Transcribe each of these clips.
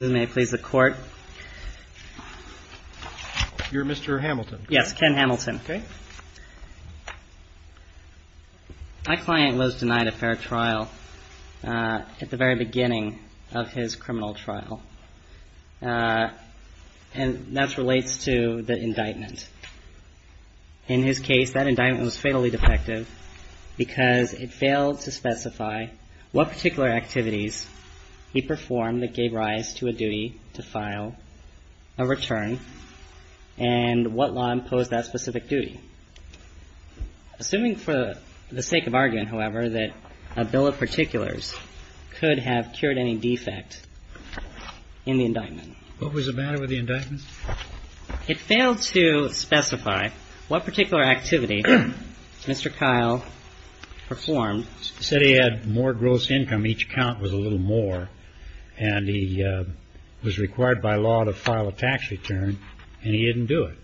May I please the court? You're Mr. Hamilton. Yes, Ken Hamilton. Okay. My client was denied a fair trial at the very beginning of his criminal trial. And that relates to the indictment. In his case, that indictment was fatally defective because it failed to specify what particular activities he performed that gave rise to a health hazard. So his clause had the inclusion of a particular duty to file a return and what law imposed that specific duty? Assuming for the sake of argument however that a bill of particulars could have cured any defect in the indictment. It failed to specify what particular activity Mr. Kyle performed. He said he had more gross income, each count was a little more, and he was required by law to file a tax return and he didn't do it.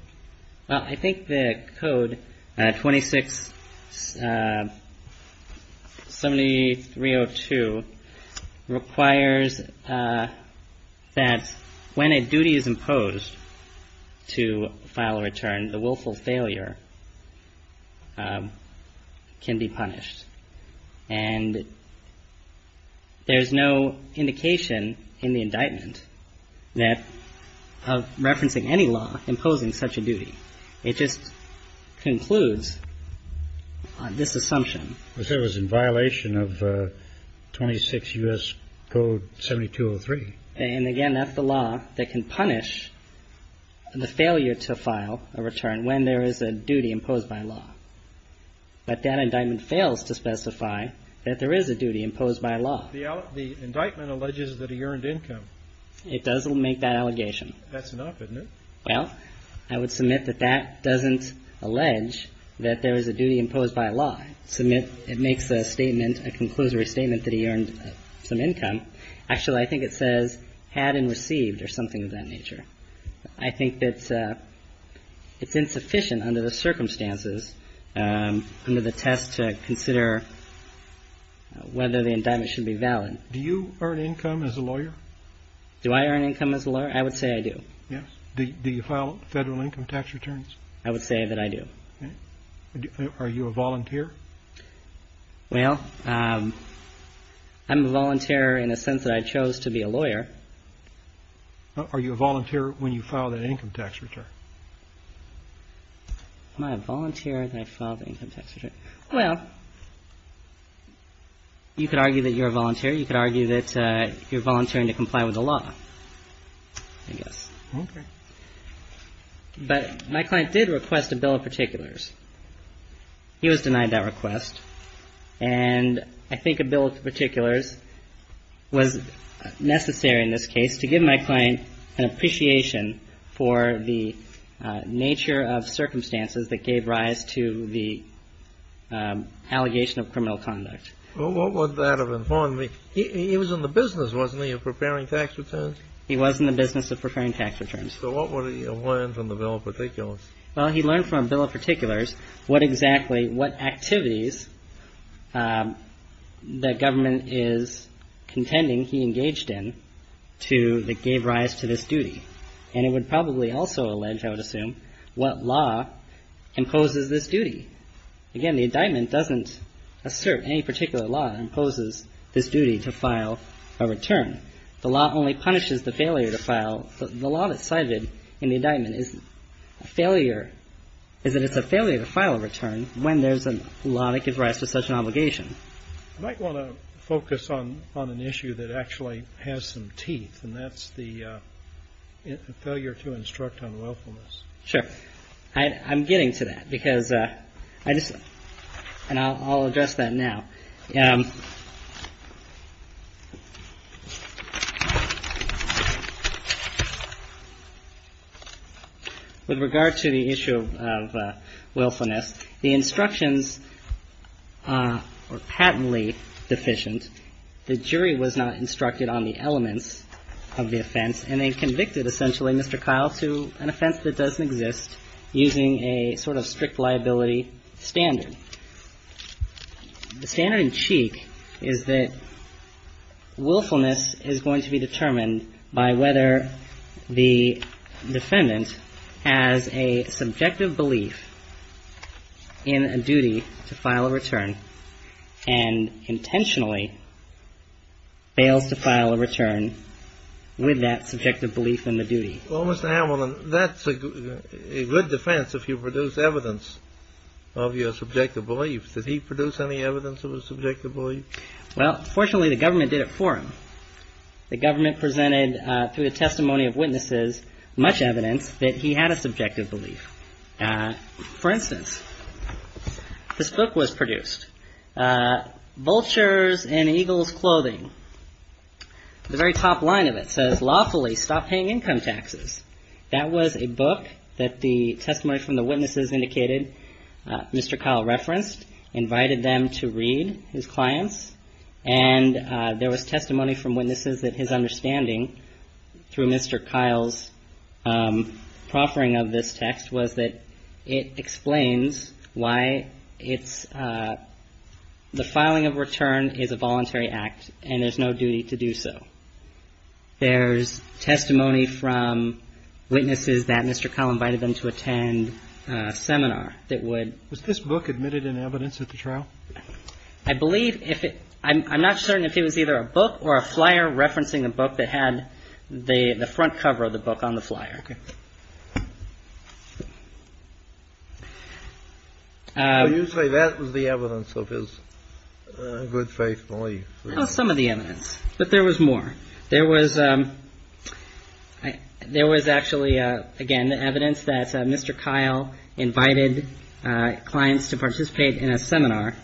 Well, I think the code 26-7302 requires that when a duty is imposed to file a return, the willful failure can be punished. And there's no indication in the indictment that of referencing any law imposing such a duty. It just concludes on this assumption. I said it was in violation of 26 U.S. Code 7203. And again, that's the law that can punish the failure to file a return when there is a duty imposed by law. But that indictment fails to specify that there is a duty imposed by law. The indictment alleges that he earned income. It doesn't make that allegation. That's enough, isn't it? Well, I would submit that that doesn't allege that there is a duty imposed by law. It makes a statement, a conclusory statement that he earned some income. Actually, I think it says had and received or something of that nature. I think that it's insufficient under the circumstances, under the test to consider whether the indictment should be valid. Do you earn income as a lawyer? Do I earn income as a lawyer? I would say I do. Yes. Do you file federal income tax returns? I would say that I do. Are you a volunteer? Well, I'm a volunteer in the sense that I chose to be a lawyer. Are you a volunteer when you file the income tax return? Am I a volunteer when I file the income tax return? Well, you could argue that you're a volunteer. You could argue that you're volunteering to comply with the law, I guess. Okay. But my client did request a bill of particulars. He was denied that request. And I think a bill of particulars was necessary in this case to give my client an appreciation for the nature of circumstances that gave rise to the allegation of criminal conduct. Well, what would that have informed me? He was in the business, wasn't he, of preparing tax returns? He was in the business of preparing tax returns. So what would he have learned from the bill of particulars? Well, he learned from a bill of particulars what exactly what activities the government is contending he engaged in to the And it would probably also allege, I would assume, what law imposes this duty. Again, the indictment doesn't assert any particular law imposes this duty to file a return. The law only punishes the failure to file. The law that's cited in the indictment is a failure to file a return when there's a law that gives rise to such an obligation. I might want to focus on an issue that actually has some teeth, and that's the failure to instruct on willfulness. Sure. I'm getting to that because I just and I'll address that now. With regard to the issue of willfulness, the instructions are patently deficient. The jury was not instructed on the elements of the offense, and they convicted essentially Mr. Kyle to an offense that doesn't exist using a sort of strict liability standard. The standard in cheek is that willfulness is going to be determined by whether the defendant has a subjective belief in a duty to file a return and intentionally fails to file a return with that subjective belief in the duty. Well, Mr. Hamilton, that's a good defense if you produce evidence of your subjective beliefs. Did he produce any evidence of a subjective belief? Well, fortunately, the government did it for him. The government presented through the testimony of witnesses much evidence that he had a subjective belief. For instance, this book was produced, Vultures in Eagle's Clothing. The very top line of it says lawfully stop paying income taxes. That was a book that the testimony from the witnesses indicated Mr. Kyle referenced, invited them to read his clients. And there was testimony from witnesses that his understanding through Mr. Kyle's proffering of this text was that it explains why it's the filing of return is a voluntary act, and there's no duty to do so. There's testimony from witnesses that Mr. Kyle invited them to attend a seminar that would. Was this book admitted in evidence at the trial? I believe if I'm not certain if it was either a book or a flyer referencing a book that had the front cover of the book on the flyer. You say that was the evidence of his good faith belief. Some of the evidence. But there was more. There was there was actually, again, the evidence that Mr. Kyle invited clients to participate in a seminar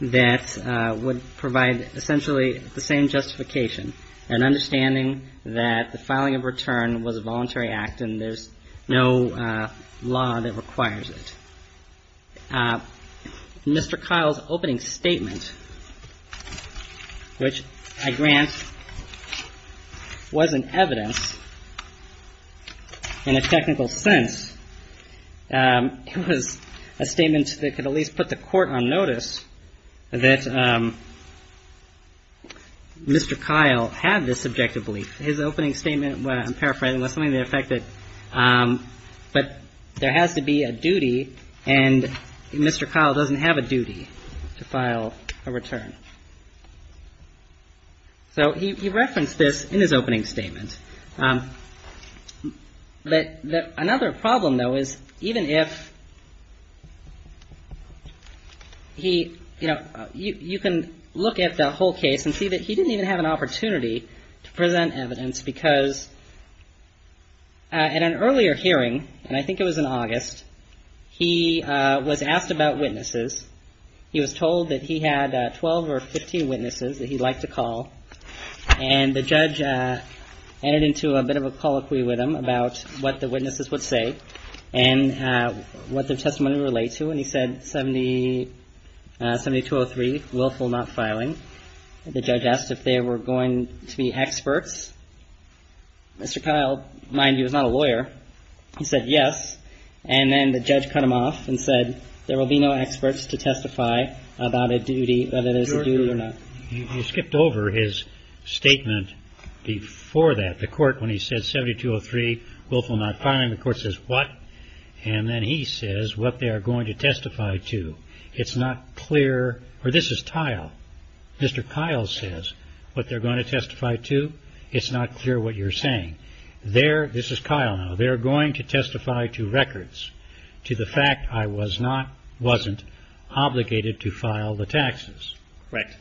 that would provide essentially the same justification, an understanding that the filing of return was a voluntary act and there's no law that requires it. Mr. Kyle's opening statement, which I grant wasn't evidence in a technical sense. It was a statement that could at least put the court on notice that Mr. Kyle had this subjective belief. His opening statement, I'm paraphrasing, was something that affected. But there has to be a duty and Mr. Kyle doesn't have a duty to file a return. So he referenced this in his opening statement. But another problem, though, is even if he you know, you can look at the whole case and see that he didn't even have an opportunity to present evidence because. At an earlier hearing, and I think it was in August, he was asked about witnesses. He was told that he had 12 or 15 witnesses that he'd like to call. And the judge entered into a bit of a colloquy with him about what the witnesses would say and what their testimony relates to. And he said 70, 72 or three willful not filing. The judge asked if they were going to be experts. Mr. Kyle, mind you, is not a lawyer. He said yes. And then the judge cut him off and said there will be no experts to testify about a duty, whether there's a duty or not. He skipped over his statement before that. The court, when he said 72 or three willful not filing, the court says what? And then he says what they are going to testify to. It's not clear. Or this is tile. Mr. Kyle says what they're going to testify to. It's not clear what you're saying there. This is Kyle. Now they're going to testify to records to the fact I was not wasn't obligated to file the taxes. Correct.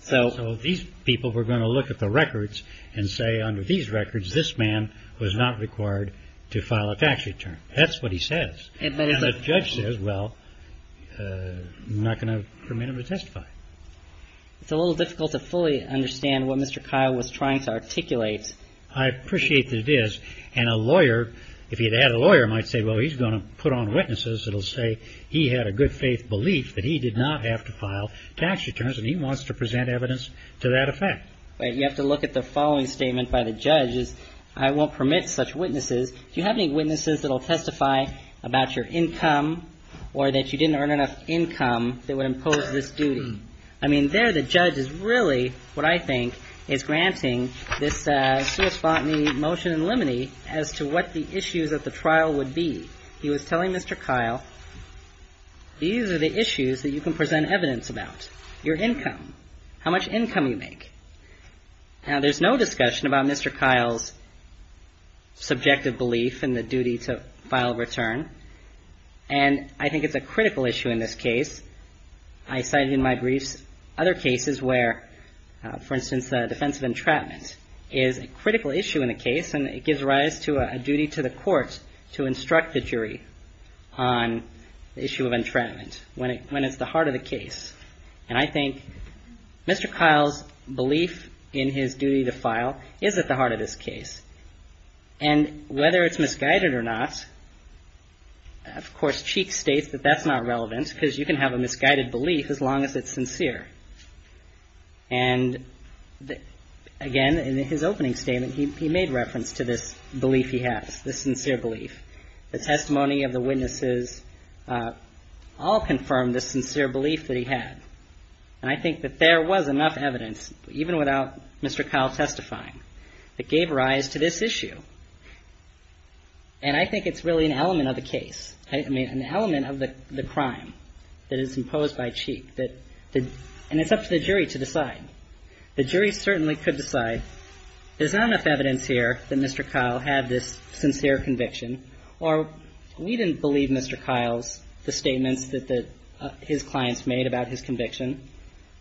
So these people were going to look at the records and say under these records, this man was not required to file a tax return. That's what he says. And the judge says, well, I'm not going to permit him to testify. It's a little difficult to fully understand what Mr. Kyle was trying to articulate. I appreciate that it is. And a lawyer, if he had had a lawyer, might say, well, he's going to put on witnesses. It'll say he had a good faith belief that he did not have to file tax returns. And he wants to present evidence to that effect. But you have to look at the following statement by the judges. I won't permit such witnesses. Do you have any witnesses that will testify about your income or that you didn't earn enough income? They would impose this duty. I mean, they're the judge is really what I think is granting this. Motion in limine as to what the issues of the trial would be. He was telling Mr. Kyle, these are the issues that you can present evidence about your income, how much income you make. Now, there's no discussion about Mr. Kyle's subjective belief in the duty to file a return. And I think it's a critical issue in this case. I cited in my briefs other cases where, for instance, the defense of entrapment is a critical issue in the case. And it gives rise to a duty to the courts to instruct the jury on the issue of entrapment when it's the heart of the case. And I think Mr. Kyle's belief in his duty to file is at the heart of this case. And whether it's misguided or not, of course, Cheek states that that's not relevant, because you can have a misguided belief as long as it's sincere. And again, in his opening statement, he made reference to this belief he has, this sincere belief. The testimony of the witnesses all confirmed this sincere belief that he had. And I think that there was enough evidence, even without Mr. Kyle testifying, that gave rise to this issue. And I think it's really an element of the case, I mean, an element of the crime that is imposed by Cheek. And it's up to the jury to decide. The jury certainly could decide, there's not enough evidence here that Mr. Kyle had this sincere conviction, or we didn't believe Mr. Kyle's statements that his clients made about his conviction.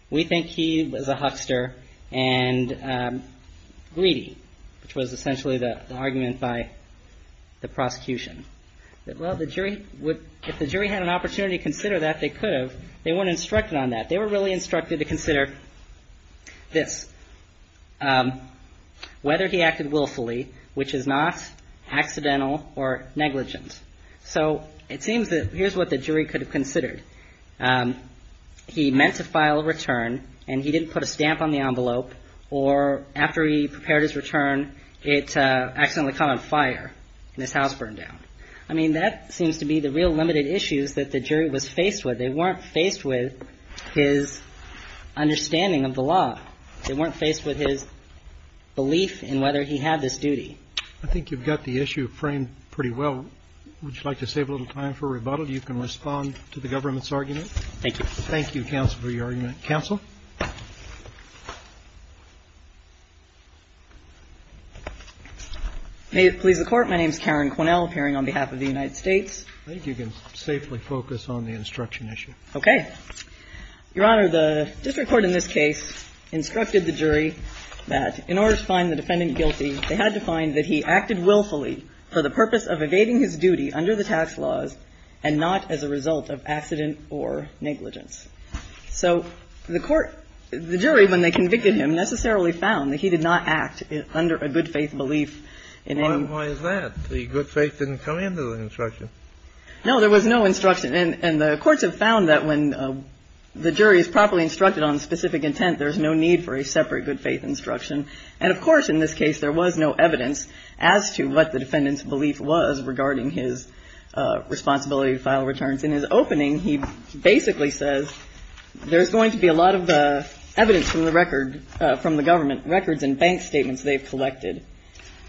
We think he was a huckster and greedy, which was essentially the argument by the prosecution. Well, if the jury had an opportunity to consider that, they could have. They weren't instructed on that. They were really instructed to consider this, whether he acted willfully, which is not accidental or negligent. So it seems that here's what the jury could have considered. He meant to file a return and he didn't put a stamp on the envelope. Or after he prepared his return, it accidentally caught on fire and his house burned down. I mean, that seems to be the real limited issues that the jury was faced with. They weren't faced with his understanding of the law. They weren't faced with his belief in whether he had this duty. I think you've got the issue framed pretty well. Would you like to save a little time for rebuttal? You can respond to the government's argument. Thank you. Thank you, counsel, for your argument. Counsel? May it please the Court. My name is Karen Quinnell, appearing on behalf of the United States. I think you can safely focus on the instruction issue. Okay. Your Honor, the district court in this case instructed the jury that in order to find the defendant guilty, they had to find that he acted willfully for the purpose of evading his duty under the tax laws and not as a result of accident or negligence. So the court – the jury, when they convicted him, necessarily found that he did not act under a good-faith belief in any – Why is that? The good faith didn't come into the instruction. No, there was no instruction. And the courts have found that when the jury is properly instructed on specific intent, there's no need for a separate good-faith instruction. And, of course, in this case, there was no evidence as to what the defendant's belief was regarding his responsibility to file returns. In his opening, he basically says there's going to be a lot of evidence from the record – from the government records and bank statements they've collected.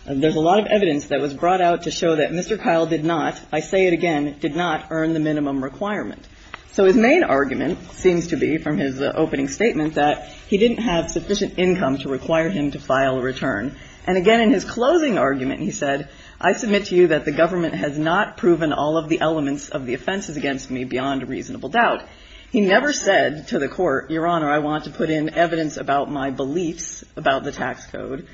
There's a lot of evidence that was brought out to show that Mr. Kyle did not – I say it again – did not earn the minimum requirement. So his main argument seems to be, from his opening statement, that he didn't have sufficient income to require him to file a return. And, again, in his closing argument, he said, I submit to you that the government has not proven all of the elements of the offenses against me beyond reasonable doubt. He never said to the court, Your Honor, I want to put in evidence about my beliefs about the tax code.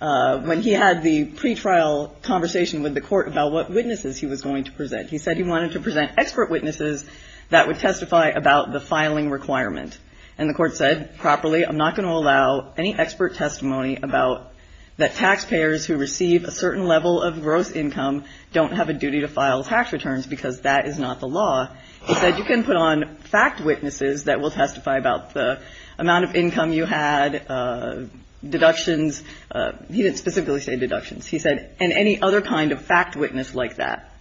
When he had the pretrial conversation with the court about what witnesses he was going to present, he said he wanted to present expert witnesses that would testify about the filing requirement. And the court said, properly, I'm not going to allow any expert testimony about that taxpayers who receive a certain level of gross income don't have a duty to file tax returns because that is not the law. He said you can put on fact witnesses that will testify about the amount of income you had, deductions – he didn't specifically say deductions. He said – and any other kind of fact witness like that.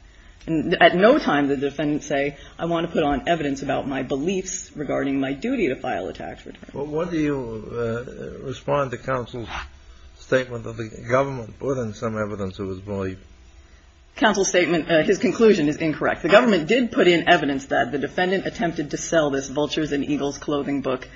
And at no time did the defendant say, I want to put on evidence about my beliefs regarding my duty to file a tax return. Well, what do you respond to counsel's statement that the government put in some evidence of his belief? Counsel's statement – his conclusion is incorrect. The government did put in evidence that the defendant attempted to sell this Vultures and Eagles clothing book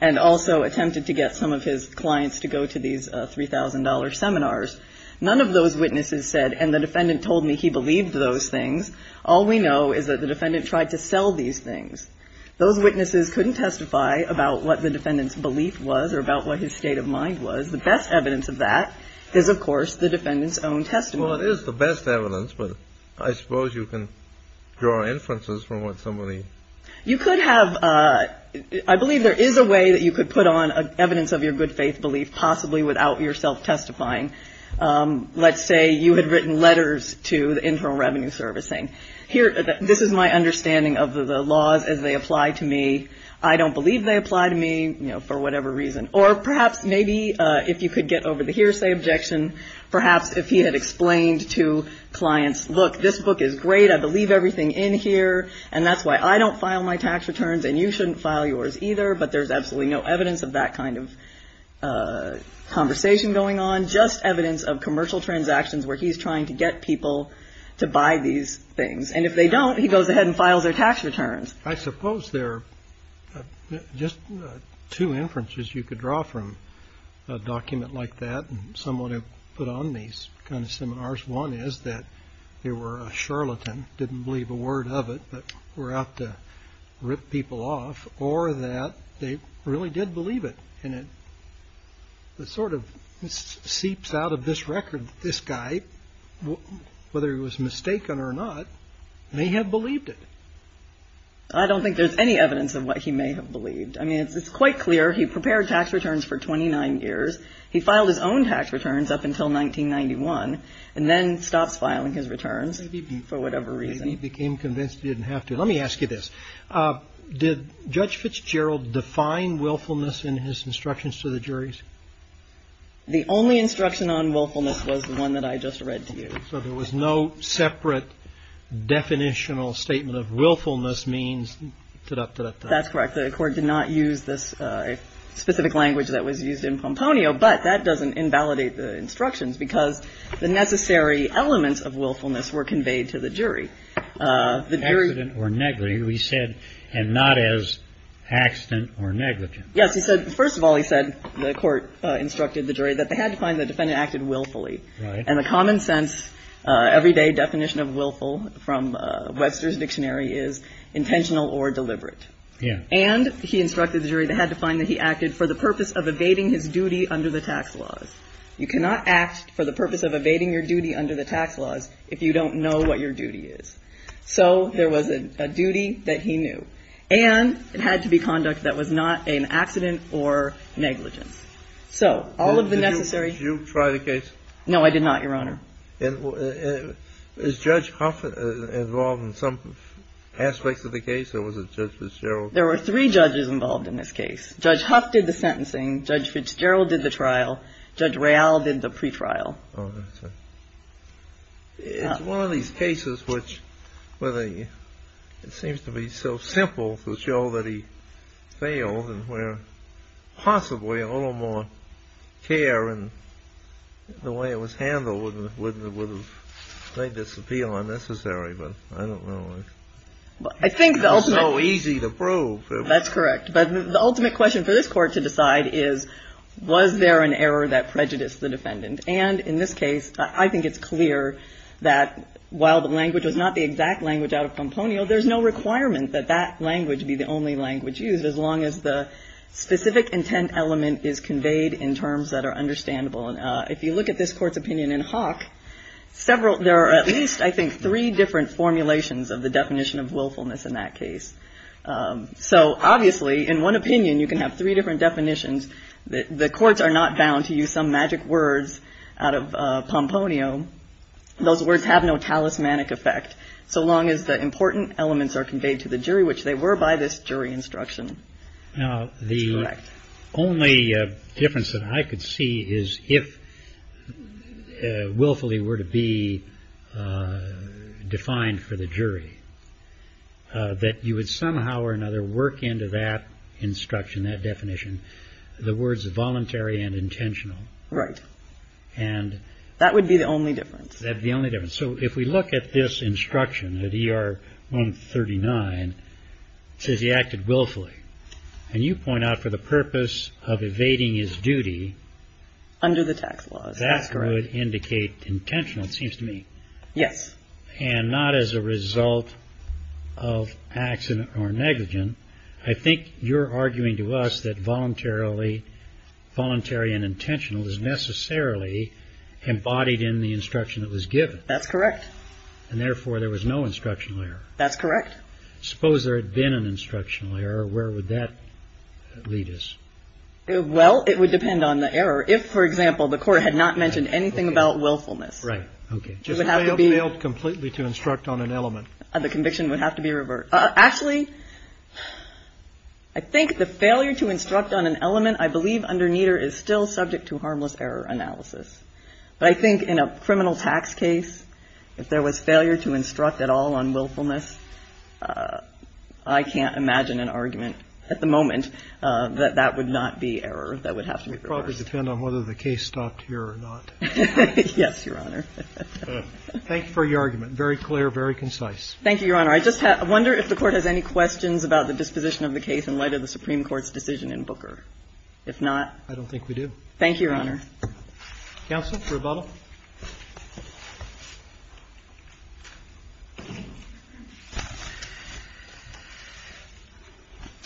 and also attempted to get some of his clients to go to these $3,000 seminars. None of those witnesses said, and the defendant told me he believed those things. All we know is that the defendant tried to sell these things. Those witnesses couldn't testify about what the defendant's belief was or about what his state of mind was. The best evidence of that is, of course, the defendant's own testimony. Well, it is the best evidence, but I suppose you can draw inferences from what somebody – You could have – I believe there is a way that you could put on evidence of your good faith belief, possibly without yourself testifying. Let's say you had written letters to the Internal Revenue Servicing. Here – this is my understanding of the laws as they apply to me. I don't believe they apply to me, you know, for whatever reason. Or perhaps maybe if you could get over the hearsay objection, perhaps if he had explained to clients, look, this book is great, I believe everything in here, and that's why I don't file my tax returns and you shouldn't file yours either, but there's absolutely no evidence of that kind of conversation going on. It's just evidence of commercial transactions where he's trying to get people to buy these things, and if they don't, he goes ahead and files their tax returns. I suppose there are just two inferences you could draw from a document like that and someone who put on these kind of seminars. One is that they were a charlatan, didn't believe a word of it, but were out to rip people off, or that they really did believe it. And it sort of seeps out of this record that this guy, whether he was mistaken or not, may have believed it. I don't think there's any evidence of what he may have believed. I mean, it's quite clear he prepared tax returns for 29 years. He filed his own tax returns up until 1991 and then stops filing his returns for whatever reason. Maybe he became convinced he didn't have to. Let me ask you this. Did Judge Fitzgerald define willfulness in his instructions to the juries? The only instruction on willfulness was the one that I just read to you. So there was no separate definitional statement of willfulness means da-da-da-da-da. That's correct. The court did not use this specific language that was used in Pomponio, but that doesn't invalidate the instructions because the necessary elements of willfulness were conveyed to the jury. Accident or negligee, we said, and not as accident or negligee. Yes. He said, first of all, he said, the court instructed the jury that they had to find the defendant acted willfully. And the common sense, everyday definition of willful from Webster's dictionary is intentional or deliberate. And he instructed the jury they had to find that he acted for the purpose of evading his duty under the tax laws. You cannot act for the purpose of evading your duty under the tax laws if you don't know what your duty is. So there was a duty that he knew. And it had to be conduct that was not an accident or negligence. So all of the necessary. Did you try the case? No, I did not, Your Honor. Is Judge Huff involved in some aspects of the case or was it Judge Fitzgerald? There were three judges involved in this case. Judge Huff did the sentencing. Judge Fitzgerald did the trial. Judge Real did the pre-trial. Oh, that's right. It's one of these cases which seems to be so simple to show that he failed and where possibly a little more care in the way it was handled would have made this appeal unnecessary. But I don't know. It's so easy to prove. That's correct. But the ultimate question for this Court to decide is, was there an error that prejudiced the defendant? And in this case, I think it's clear that while the language was not the exact language out of componio, there's no requirement that that language be the only language used as long as the specific intent element is conveyed in terms that are understandable. And if you look at this Court's opinion in Hawk, several – there are at least, I think, three different formulations of the definition of willfulness in that case. So obviously, in one opinion, you can have three different definitions. The courts are not bound to use some magic words out of componio. Those words have no talismanic effect so long as the important elements are conveyed to the jury, which they were by this jury instruction. Now, the only difference that I could see is if willfully were to be defined for the jury, that you would somehow or another work into that instruction, that definition, the words voluntary and intentional. Right. And – That would be the only difference. That would be the only difference. So if we look at this instruction, at ER 139, it says he acted willfully. And you point out for the purpose of evading his duty – Under the tax laws. That's correct. That would indicate intentional, it seems to me. Yes. And not as a result of accident or negligence. I think you're arguing to us that voluntarily – voluntary and intentional is necessarily embodied in the instruction that was given. That's correct. And therefore, there was no instructional error. That's correct. Suppose there had been an instructional error. Where would that lead us? Well, it would depend on the error. If, for example, the Court had not mentioned anything about willfulness. Right. Okay. Just failed completely to instruct on an element. The conviction would have to be reversed. Actually, I think the failure to instruct on an element, I believe under Nieder, is still subject to harmless error analysis. But I think in a criminal tax case, if there was failure to instruct at all on willfulness, I can't imagine an argument at the moment that that would not be error. That would have to be reversed. It would probably depend on whether the case stopped here or not. Yes, Your Honor. Thank you for your argument. Very clear, very concise. Thank you, Your Honor. I just wonder if the Court has any questions about the disposition of the case in light of the Supreme Court's decision in Booker. If not – I don't think we do. Thank you, Your Honor. Counsel, rebuttal.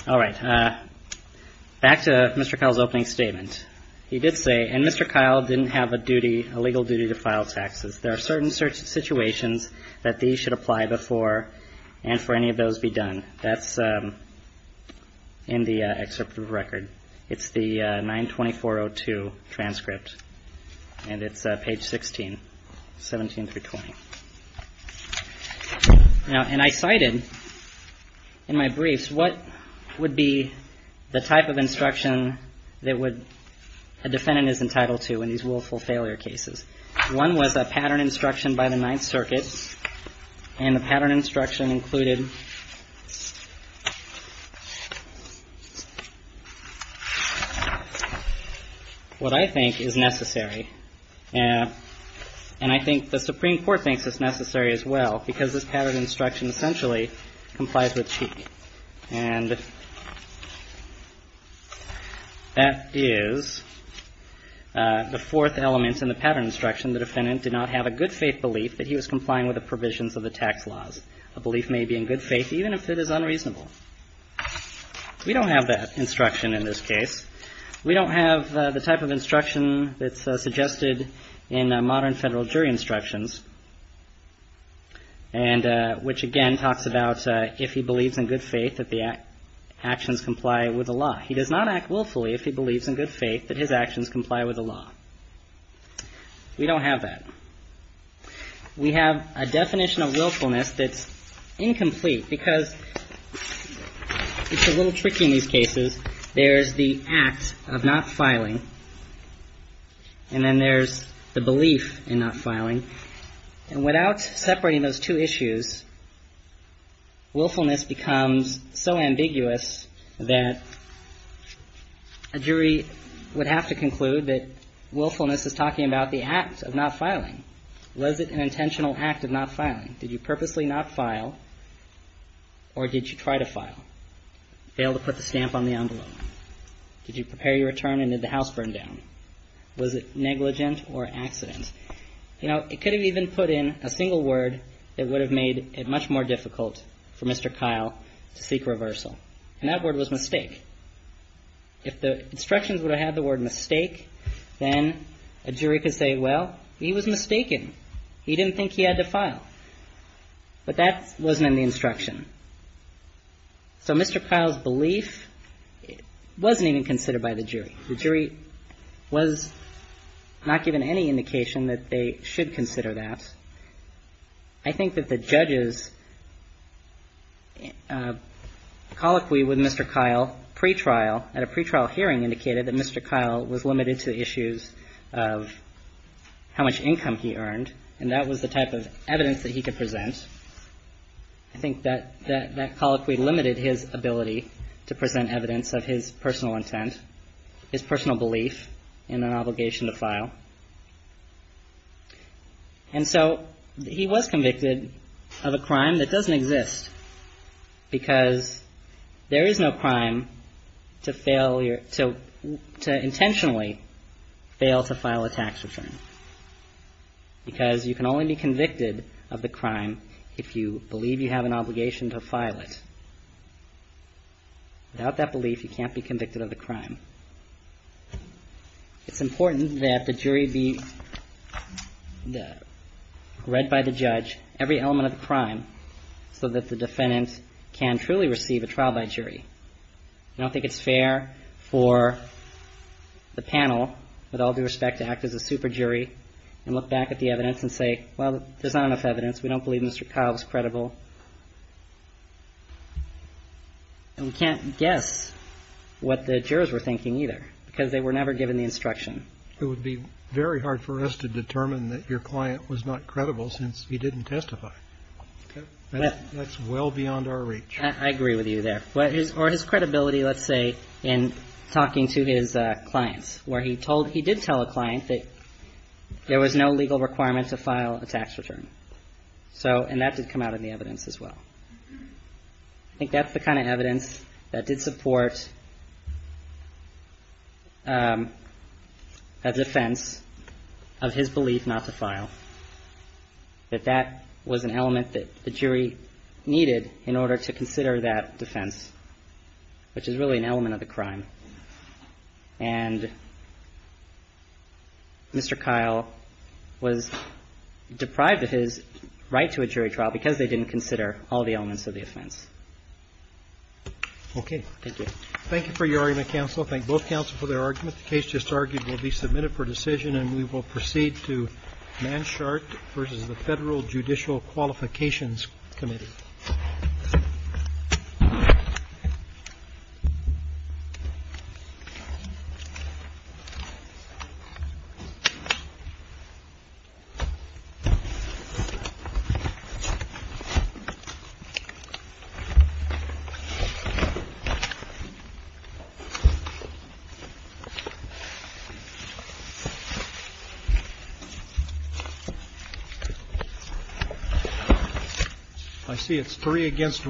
All right. Back to Mr. Kyle's opening statement. He did say, and Mr. Kyle didn't have a duty, a legal duty, to file taxes. There are certain situations that these should apply before and for any of those be done. That's in the excerpt of the record. It's the 924.02 transcript, and it's page 16, 17 through 20. And I cited in my briefs what would be the type of instruction that a defendant is entitled to in these willful failure cases. One was a pattern instruction by the Ninth Circuit. And the pattern instruction included what I think is necessary. And I think the Supreme Court thinks it's necessary as well because this pattern instruction essentially complies with Cheek. And that is the fourth element in the pattern instruction. The defendant did not have a good faith belief that he was complying with the provisions of the tax laws. A belief may be in good faith even if it is unreasonable. We don't have that instruction in this case. We don't have the type of instruction that's suggested in modern federal jury instructions, which again talks about if he believes in good faith that the actions comply with the law. He does not act willfully if he believes in good faith that his actions comply with the law. We don't have that. We have a definition of willfulness that's incomplete because it's a little tricky in these cases. There's the act of not filing. And then there's the belief in not filing. And without separating those two issues, willfulness becomes so ambiguous that a jury would have to conclude that willfulness is talking about the act of not filing. Was it an intentional act of not filing? Did you purposely not file or did you try to file? Failed to put the stamp on the envelope. Did you prepare your return and did the house burn down? Was it negligent or accident? You know, it could have even put in a single word that would have made it much more difficult for Mr. Kyle to seek reversal. And that word was mistake. If the instructions would have had the word mistake, then a jury could say, well, he was mistaken. He didn't think he had to file. But that wasn't in the instruction. So Mr. Kyle's belief wasn't even considered by the jury. The jury was not given any indication that they should consider that. I think that the judges' colloquy with Mr. Kyle pretrial at a pretrial hearing indicated that Mr. Kyle was limited to issues of how much income he earned. And that was the type of evidence that he could present. I think that that colloquy limited his ability to present evidence of his personal intent, his personal belief in an obligation to file. And so he was convicted of a crime that doesn't exist because there is no crime to fail or to intentionally fail to file a tax return. Because you can only be convicted of the crime if you believe you have an obligation to file it. Without that belief, you can't be convicted of the crime. It's important that the jury be read by the judge every element of the crime so that the defendant can truly receive a trial by jury. I don't think it's fair for the panel, with all due respect, to act as a super jury and look back at the evidence and say, well, there's not enough evidence. We don't believe Mr. Kyle's credible. And we can't guess what the jurors were thinking either because they were never given the instruction. It would be very hard for us to determine that your client was not credible since he didn't testify. That's well beyond our reach. I agree with you there. But his or his credibility, let's say, in talking to his clients where he told he did tell a client that there was no legal requirement to file a tax return. So and that did come out in the evidence as well. I think that's the kind of evidence that did support a defense of his belief not to file. That that was an element that the jury needed in order to consider that defense, which is really an element of the crime. And Mr. Kyle was deprived of his right to a jury trial because they didn't consider all the elements of the offense. Okay. Thank you. Thank you for your argument, counsel. I thank both counsel for their argument. The case just argued will be submitted for decision, and we will proceed to Manshard v. The Federal Judicial Qualifications Committee. Thank you. I see it's three against one.